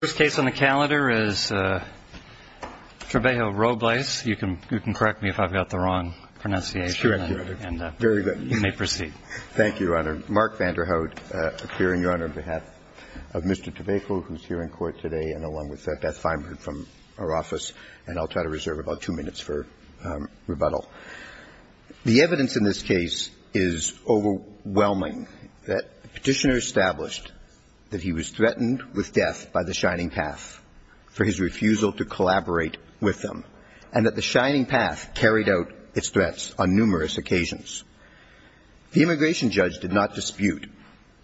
The first case on the calendar is Trebejo-Robles. You can correct me if I've got the wrong pronunciation. That's correct, Your Honor. And you may proceed. Thank you, Your Honor. Mark Vanderhout appearing, Your Honor, on behalf of Mr. Trebejo, who's here in court today, and along with Beth Feinberg from our office. And I'll try to reserve about two minutes for rebuttal. The evidence in this case is overwhelming that the Petitioner established that he was threatened with death by the Shining Path for his refusal to collaborate with them, and that the Shining Path carried out its threats on numerous occasions. The immigration judge did not dispute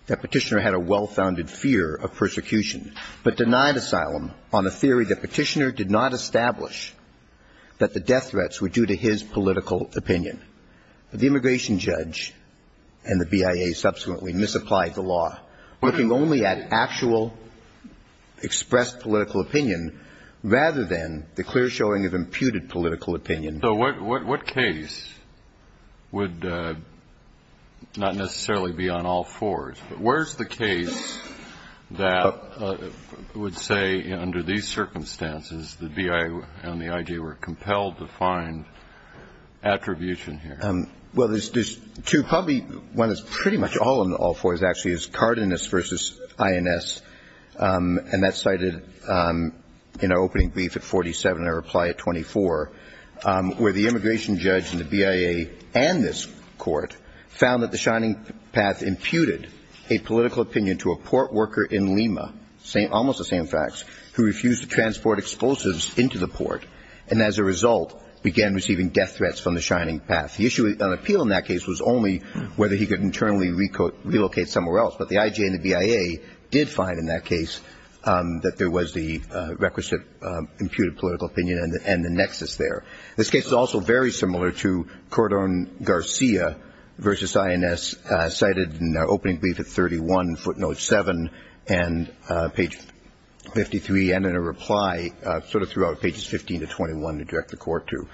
that Petitioner had a well-founded fear of persecution, but denied asylum on the theory that Petitioner did not establish that the death threats were due to his political opinion. The immigration judge and the BIA subsequently misapplied the law, looking only at actual expressed political opinion rather than the clear showing of imputed political opinion. So what case would not necessarily be on all fours, but where's the case that would say, under these circumstances, the BIA and the IG were compelled to find attribution here? Well, there's two. Probably one that's pretty much all on all fours actually is Cardenas v. INS, and that's cited in our opening brief at 47 and our reply at 24, where the immigration judge and the BIA and this court found that the Shining Path imputed a political opinion to a port worker in Lima, almost the same facts, who refused to transport explosives into the port, and as a result, began receiving death threats from the Shining Path. The issue on appeal in that case was only whether he could internally relocate somewhere else, but the IG and the BIA did find in that case that there was the requisite imputed political opinion and the nexus there. This case is also very similar to Cordon Garcia v. INS, cited in our opening brief at 31, footnote 7, and page 53, and in a reply sort of throughout pages 15 to 21 to the court too,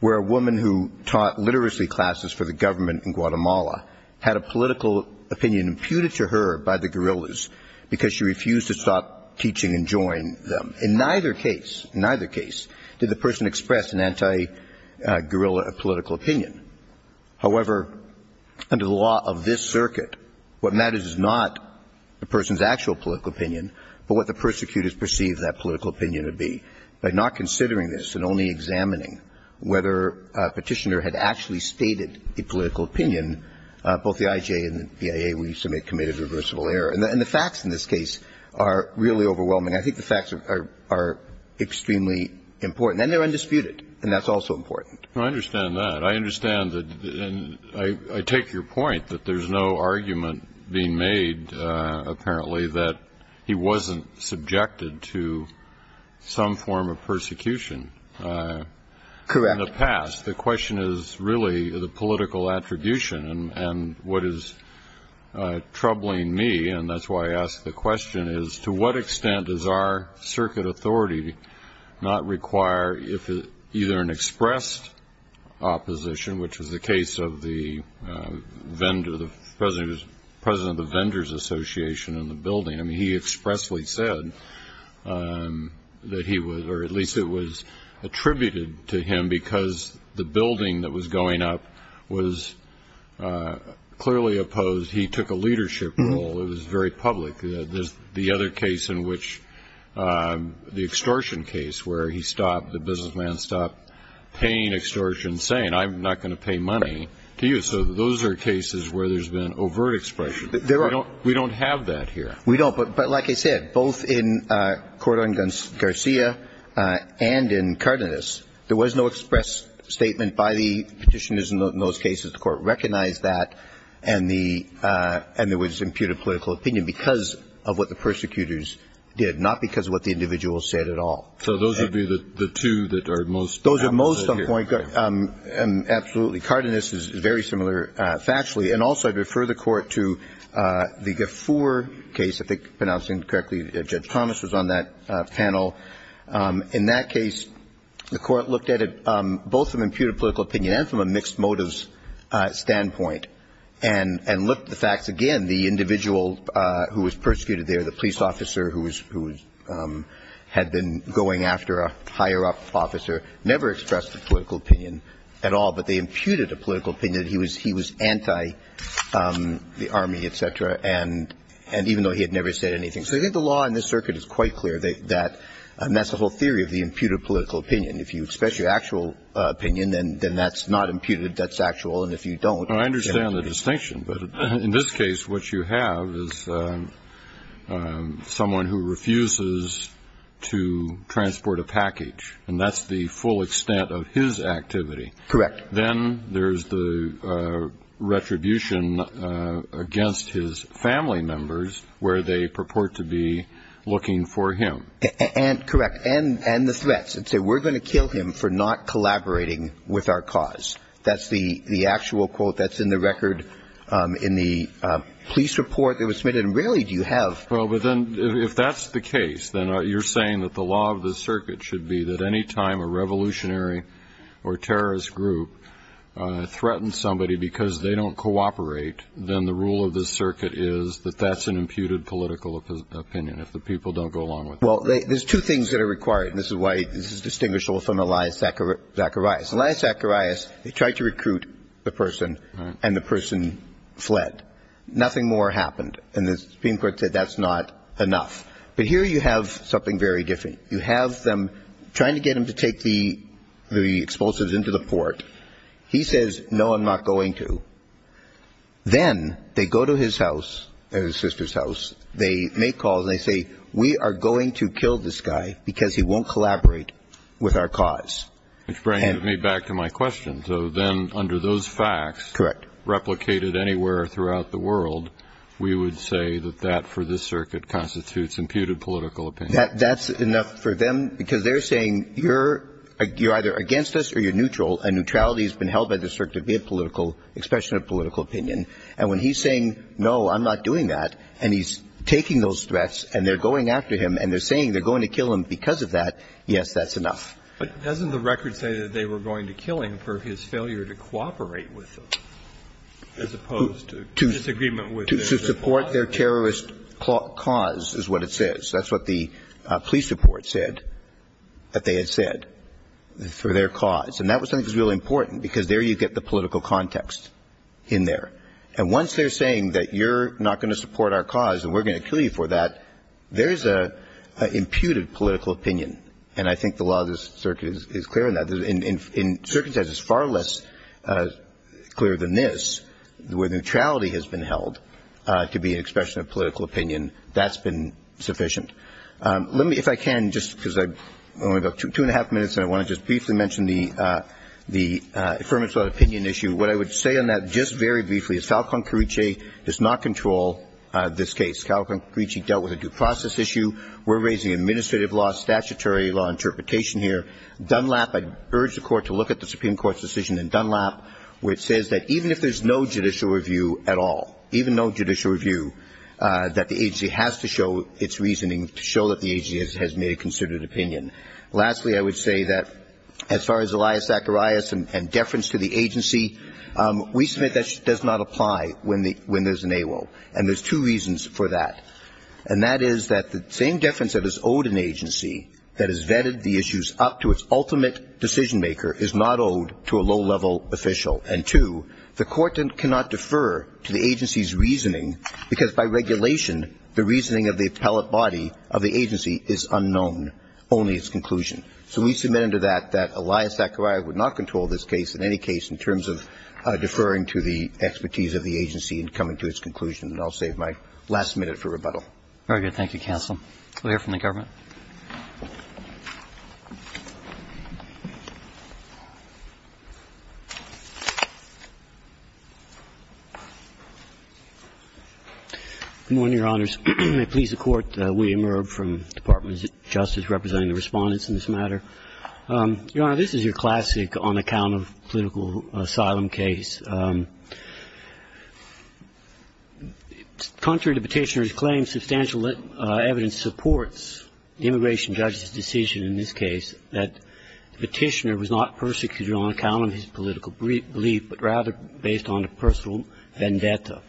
where a woman who taught literacy classes for the government in Guatemala had a political opinion imputed to her by the guerrillas because she refused to stop teaching and join them. In neither case did the person express an anti-guerrilla political opinion. However, under the law of this circuit, what matters is not the person's actual political opinion, but what the persecutors perceived that political opinion to be. By not considering this and only examining whether a petitioner had actually stated a political opinion, both the IG and the BIA, we submit committed reversible error. And the facts in this case are really overwhelming. I think the facts are extremely important, and they're undisputed, and that's also important. Well, I understand that. I understand that, and I take your point that there's no argument being made, apparently, that he wasn't subjected to some form of persecution in the past. The question is really the political attribution, and what is troubling me, and that's why I ask the question, is to what extent does our circuit authority not require either an expressed opposition, which was the case of the president of the association in the building? I mean, he expressly said that he was, or at least it was attributed to him because the building that was going up was clearly opposed. He took a leadership role. It was very public. The other case in which the extortion case, where he stopped, the businessman stopped paying extortion, saying, I'm not going to pay money to you. So those are cases where there's been overt expression. We don't have that here. We don't, but like I said, both in Cordon Garcia and in Cardenas, there was no express statement by the petitioners in those cases. The court recognized that, and there was imputed political opinion because of what the persecutors did, not because of what the individual said at all. So those would be the two that are most apposite here. Absolutely. Cardenas is very similar factually. And also I'd refer the court to the Gafoor case, if I'm pronouncing it correctly. Judge Thomas was on that panel. In that case, the court looked at it both from an imputed political opinion and from a mixed motives standpoint, and looked at the facts again. The individual who was persecuted there, the police officer who had been going after a higher-up officer, never expressed a political opinion at all, but they imputed a political opinion. He was anti-the Army, et cetera, and even though he had never said anything. So I think the law in this circuit is quite clear that that's the whole theory of the imputed political opinion. If you express your actual opinion, then that's not imputed. That's actual. And if you don't, then it's not. Well, I understand the distinction, but in this case, what you have is someone who refuses to transport a package, and that's the full extent of his activity. Correct. Then there's the retribution against his family members where they purport to be looking for him. And correct. And the threats that say we're going to kill him for not collaborating with our cause. That's the actual quote that's in the record in the police report that was submitted. And rarely do you have. Well, but then if that's the case, then you're saying that the law of the circuit should be that any time a revolutionary or terrorist group threatens somebody because they don't cooperate, then the rule of the circuit is that that's an imputed political opinion if the people don't go along with it. Well, there's two things that are required, and this is why this is distinguishable from Elias Zacharias. Elias Zacharias, he tried to recruit the person, and the person fled. Nothing more happened. And the Supreme Court said that's not enough. But here you have something very different. You have them trying to get him to take the explosives into the port. He says, no, I'm not going to. Then they go to his house, his sister's house. They make calls and they say, we are going to kill this guy because he won't collaborate with our cause. Which brings me back to my question. So then under those facts. Correct. And if they're replicated anywhere throughout the world, we would say that that for this circuit constitutes imputed political opinion. That's enough for them because they're saying you're either against us or you're neutral, and neutrality has been held by the circuit to be a political expression of political opinion. And when he's saying, no, I'm not doing that, and he's taking those threats and they're going after him and they're saying they're going to kill him because of that, yes, that's enough. But doesn't the record say that they were going to kill him for his failure to cooperate with them as opposed to disagreement with them? To support their terrorist cause is what it says. That's what the police report said that they had said for their cause. And that was something that was really important because there you get the political context in there. And once they're saying that you're not going to support our cause and we're going to kill you for that, there's an imputed political opinion. And I think the law of this circuit is clear on that. In certain cases, it's far less clear than this where neutrality has been held to be an expression of political opinion. That's been sufficient. Let me, if I can, just because I only have two and a half minutes and I want to just briefly mention the affirmative opinion issue, what I would say on that just very briefly is Falcón Carriche does not control this case. Falcón Carriche dealt with a due process issue. We're raising administrative law, statutory law, interpretation here. Dunlap, I urge the Court to look at the Supreme Court's decision in Dunlap where it says that even if there's no judicial review at all, even no judicial review, that the agency has to show its reasoning to show that the agency has made a considered opinion. Lastly, I would say that as far as Elias Zacharias and deference to the agency, we submit that does not apply when there's an AWO. And there's two reasons for that. And that is that the same deference that is owed an agency that has vetted the issues up to its ultimate decision-maker is not owed to a low-level official. And two, the Court cannot defer to the agency's reasoning because by regulation the reasoning of the appellate body of the agency is unknown, only its conclusion. So we submit under that that Elias Zacharias would not control this case in any case in terms of deferring to the expertise of the agency in coming to its conclusion. And I'll save my last minute for rebuttal. Very good. Thank you, Counsel. We'll hear from the Government. Good morning, Your Honors. May it please the Court, William Irb from Department of Justice representing the Respondents in this matter. Your Honor, this is your classic on-account of political asylum case. Contrary to Petitioner's claim, substantial evidence supports the immigration judge's decision in this case that Petitioner was not persecuted on account of his political belief, but rather based on a personal vendetta.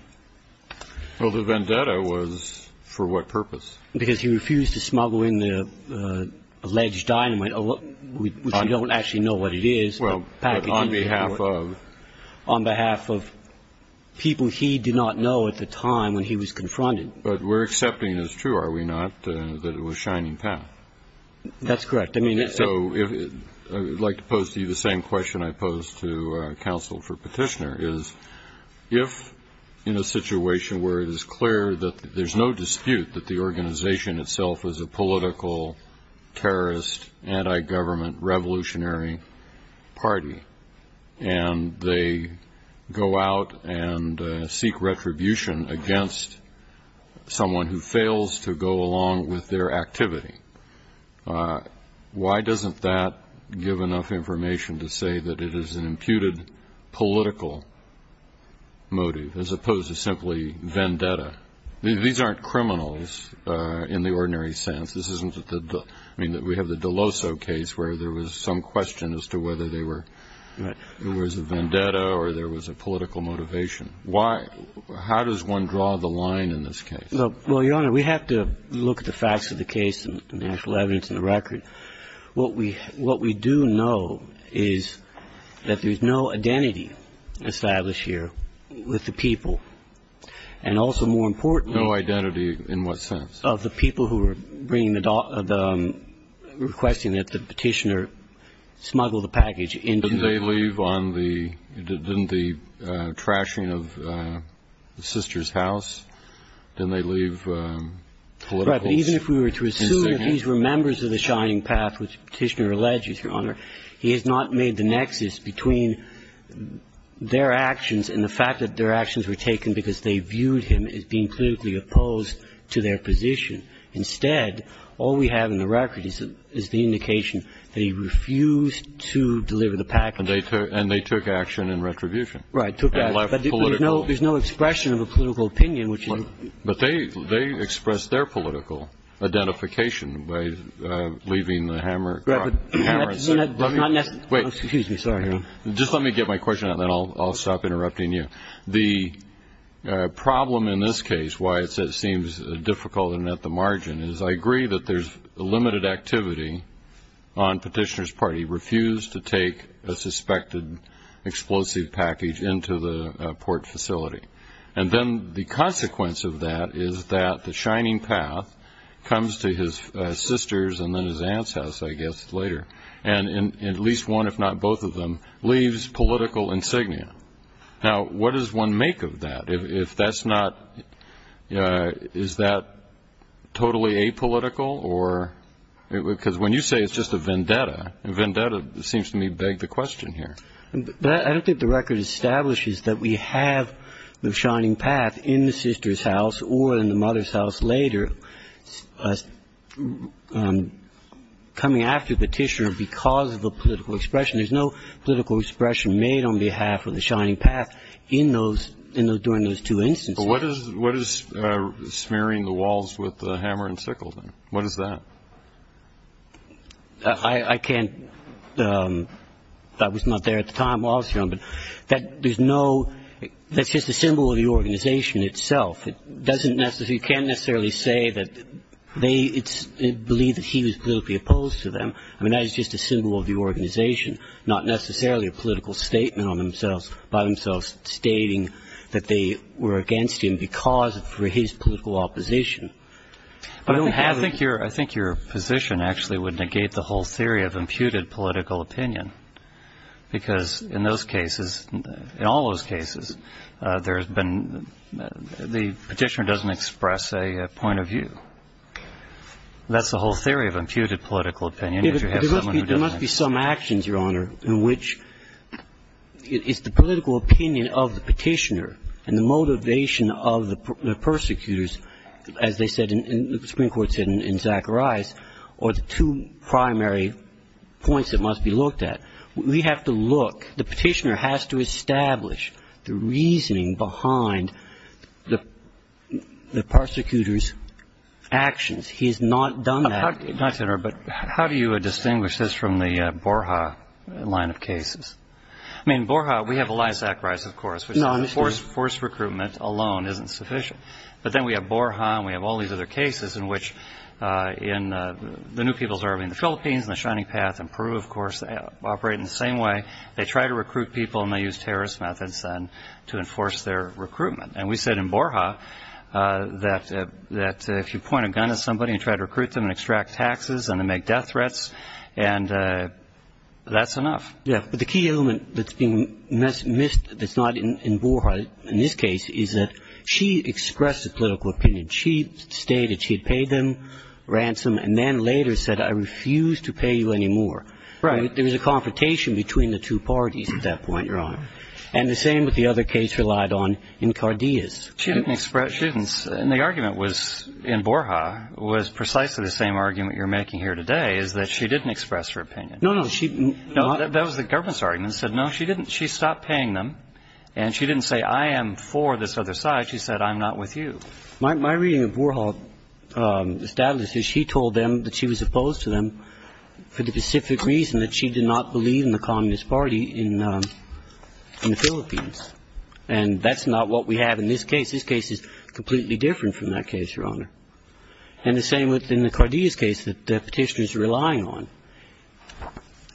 Well, the vendetta was for what purpose? Because he refused to smuggle in the alleged dynamite, which we don't actually know what it is. Well, on behalf of? On behalf of people he did not know at the time when he was confronted. But we're accepting as true, are we not, that it was Shining Path? That's correct. So I would like to pose to you the same question I posed to Counsel for Petitioner, is if in a situation where it is clear that there's no dispute that the organization itself is a political, terrorist, anti-government, revolutionary party, and they go out and seek retribution against someone who fails to go along with their activity, why doesn't that give enough information to say that it is an imputed political motive, as opposed to simply vendetta? These aren't criminals in the ordinary sense. This isn't the – I mean, we have the DeLosso case where there was some question as to whether there was a vendetta or there was a political motivation. Why – how does one draw the line in this case? Well, Your Honor, we have to look at the facts of the case and the actual evidence in the record. What we do know is that there's no identity established here with the people. And also, more importantly – No identity in what sense? Of the people who are bringing the – requesting that the Petitioner smuggle the package into – Didn't they leave on the – didn't the trashing of the sister's house, didn't they leave political – Right. But even if we were to assume that these were members of the Shining Path, which Petitioner alleges, Your Honor, he has not made the nexus between their actions and the fact that their actions were taken because they viewed him as being politically opposed to their position. Instead, all we have in the record is the indication that he refused to deliver the package. And they took action in retribution. Right. And left political – But there's no expression of a political opinion, which is – But they expressed their political identification by leaving the hammer – But that does not necessarily – Wait. Excuse me. Sorry, Your Honor. Just let me get my question and then I'll stop interrupting you. The problem in this case, why it seems difficult and at the margin, is I agree that there's limited activity on Petitioner's part. He refused to take a suspected explosive package into the port facility. And then the consequence of that is that the Shining Path comes to his sister's and then his aunt's house, I guess, later. And at least one, if not both of them, leaves political insignia. Now, what does one make of that? If that's not – is that totally apolitical or – because when you say it's just a vendetta, a vendetta seems to me beg the question here. I don't think the record establishes that we have the Shining Path in the sister's house or in the mother's house later coming after Petitioner because of the political expression. There's no political expression made on behalf of the Shining Path in those – during those two instances. But what is smearing the walls with the hammer and sickle then? What is that? I can't – that was not there at the time, obviously, Your Honor. But there's no – that's just a symbol of the organization itself. It doesn't necessarily – you can't necessarily say that they believe that he was politically opposed to them. I mean, that is just a symbol of the organization, not necessarily a political statement on themselves, by themselves stating that they were against him because of his political opposition. But I don't have – I think your position actually would negate the whole theory of imputed political opinion because in those cases, in all those cases, there has been – the Petitioner doesn't express a point of view. That's the whole theory of imputed political opinion. There must be some actions, Your Honor, in which it's the political opinion of the Petitioner and the motivation of the persecutors, as they said in – the Supreme Court said in Zacharias, or the two primary points that must be looked at. We have to look – the Petitioner has to establish the reasoning behind the persecutors' actions. He has not done that. But how do you distinguish this from the Borja line of cases? I mean, Borja, we have Elias Zacharias, of course, which forced recruitment alone isn't sufficient. But then we have Borja and we have all these other cases in which the new people's army in the Philippines and the Shining Path and Peru, of course, operate in the same way. They try to recruit people and they use terrorist methods to enforce their recruitment. And we said in Borja that if you point a gun at somebody and try to recruit them and extract taxes and then make death threats, that's enough. Yes, but the key element that's been missed that's not in Borja in this case is that she expressed a political opinion. She stated she had paid them ransom and then later said, I refuse to pay you anymore. Right. There was a confrontation between the two parties at that point, Your Honor. And the same with the other case relied on in Cardeas. She didn't express – and the argument was – in Borja was precisely the same argument you're making here today, is that she didn't express her opinion. No, no, she – No, that was the government's argument. She said, no, she didn't – she stopped paying them. And she didn't say, I am for this other side. She said, I'm not with you. My reading of Borja's status is she told them that she was opposed to them for the specific reason that she did not believe in the Communist Party in the Philippines. And that's not what we have in this case. This case is completely different from that case, Your Honor. And the same with – in the Cardeas case, the Petitioner's relying on.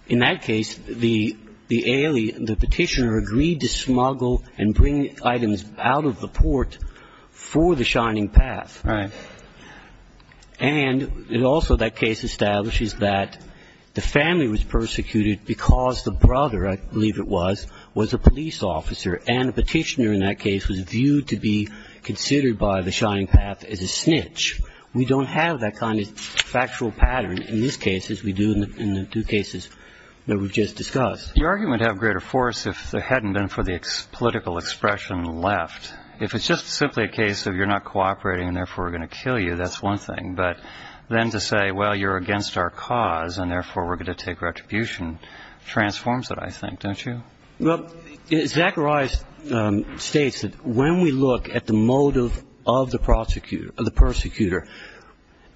In that case, the – the Petitioner agreed to smuggle and bring items out of the port for the Shining Path. Right. And also that case establishes that the family was persecuted because the brother, I believe it was, was a police officer. And the Petitioner in that case was viewed to be considered by the Shining Path as a snitch. We don't have that kind of factual pattern in this case as we do in the two cases that we've just discussed. Your argument to have greater force, if there hadn't been for the political expression left, if it's just simply a case of you're not cooperating and therefore we're going to kill you, that's one thing. But then to say, well, you're against our cause and therefore we're going to take retribution, transforms it, I think, don't you? Well, Zachariah states that when we look at the motive of the prosecutor – of the persecutor,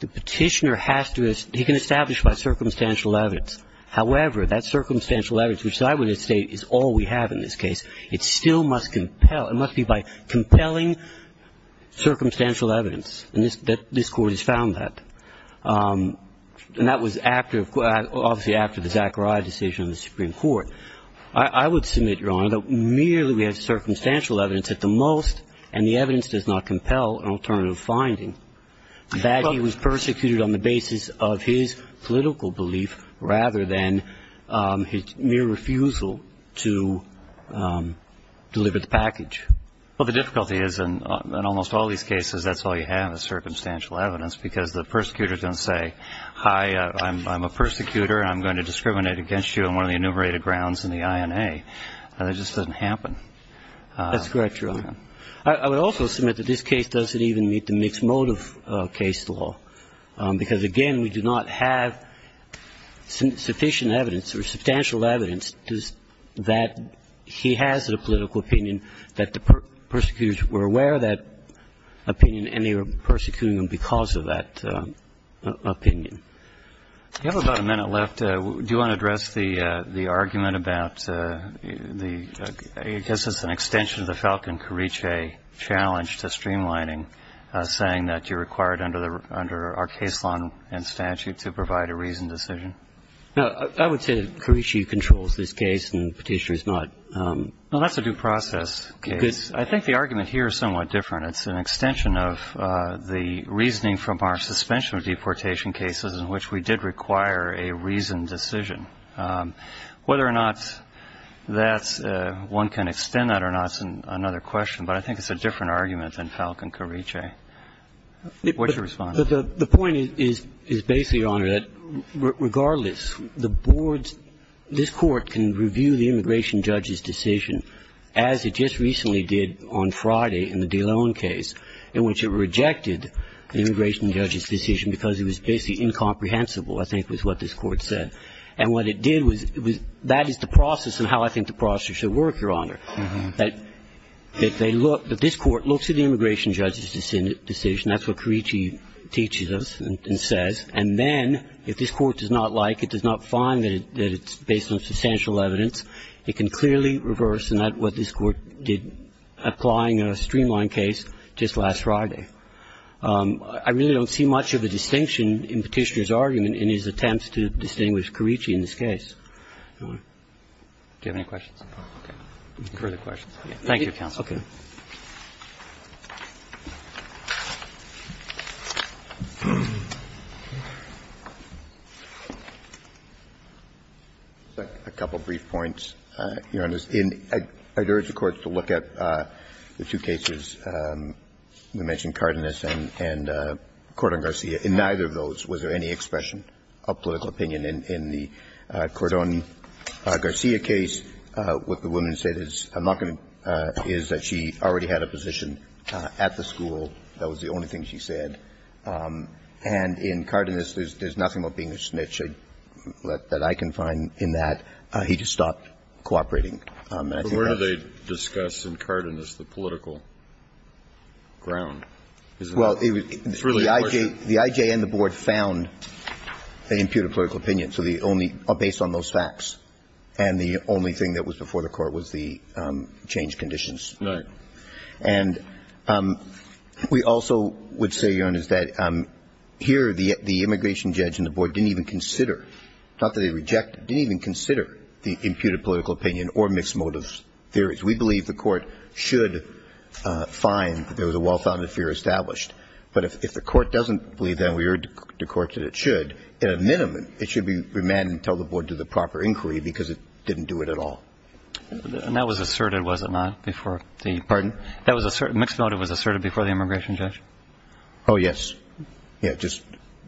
the Petitioner has to – he can establish by circumstantial evidence. However, that circumstantial evidence, which I would say is all we have in this case, it still must compel – it must be by compelling circumstantial evidence. And this Court has found that. And that was after – obviously after the Zachariah decision in the Supreme Court. I would submit, Your Honor, that merely we have circumstantial evidence at the most, and the evidence does not compel an alternative finding, that he was persecuted on the basis of his political belief rather than his mere refusal to deliver the package. Well, the difficulty is in almost all these cases that's all you have is circumstantial evidence because the persecutor doesn't say, Hi, I'm a persecutor and I'm going to discriminate against you on one of the enumerated grounds in the INA. That just doesn't happen. That's correct, Your Honor. I would also submit that this case doesn't even meet the mixed motive case law because, again, we do not have sufficient evidence or substantial evidence that he has a political opinion, that the persecutors were aware of that opinion and they were persecuting him because of that opinion. You have about a minute left. Do you want to address the argument about the – I guess it's an extension of the Falcon-Carice challenge to streamlining, saying that you're required under our case law and statute to provide a reasoned decision? No. I would say that Carice controls this case and the Petitioner does not. Well, that's a due process case. I think the argument here is somewhat different. It's an extension of the reasoning from our suspension of deportation cases in which we did require a reasoned decision. Whether or not that's – one can extend that or not is another question, but I think it's a different argument than Falcon-Carice. What's your response? The point is basically, Your Honor, that regardless, the boards – this Court can review the immigration judge's decision as it just recently did on Friday in the DeLone case in which it rejected the immigration judge's decision because it was basically incomprehensible, I think was what this Court said. And what it did was it was – that is the process and how I think the process should work, Your Honor. But if they look – if this Court looks at the immigration judge's decision, that's what Carice teaches us and says, and then if this Court does not like, it does not find that it's based on substantial evidence, it can clearly reverse what this Court did applying a streamlined case just last Friday. I really don't see much of a distinction in Petitioner's argument in his attempts to distinguish Carice in this case. Do you have any questions? Okay. Further questions? Thank you, counsel. A couple brief points, Your Honor. In – I urge the courts to look at the two cases we mentioned, Cardenas and Cordon-Garcia. In neither of those, was there any expression of political opinion in the Cordon-Garcia In the Cordon-Garcia case, what the woman said is, I'm not going to – is that she already had a position at the school. That was the only thing she said. And in Cardenas, there's nothing about being a snitch that I can find in that. He just stopped cooperating. But where do they discuss in Cardenas the political ground? Well, it was – It's really a question. The IJ and the Board found an imputed political opinion, so the only – based on those facts. And the only thing that was before the Court was the changed conditions. Right. And we also would say, Your Honor, is that here the immigration judge and the Board didn't even consider – not that they rejected – didn't even consider the imputed political opinion or mixed motive theories. We believe the Court should find that there was a well-founded fear established. But if the Court doesn't believe that and we urge the Court that it should, at a minimum it should be remanded and tell the Board to do the proper inquiry because it didn't do it at all. And that was asserted, was it not, before the – Pardon? That was asserted – mixed motive was asserted before the immigration judge? Oh, yes. Yeah, just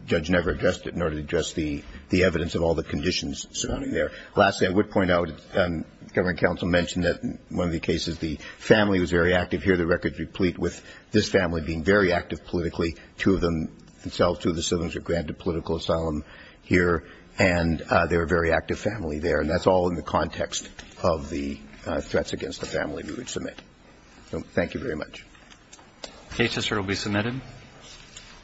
judge never addressed it in order to address the evidence of all the conditions surrounding there. Lastly, I would point out, and the government counsel mentioned that in one of the cases, the family was very active. Here the record is replete with this family being very active politically, two of them themselves, two of the siblings were granted political asylum here, and they were a very active family there. And that's all in the context of the threats against the family we would submit. So thank you very much. The case will be submitted.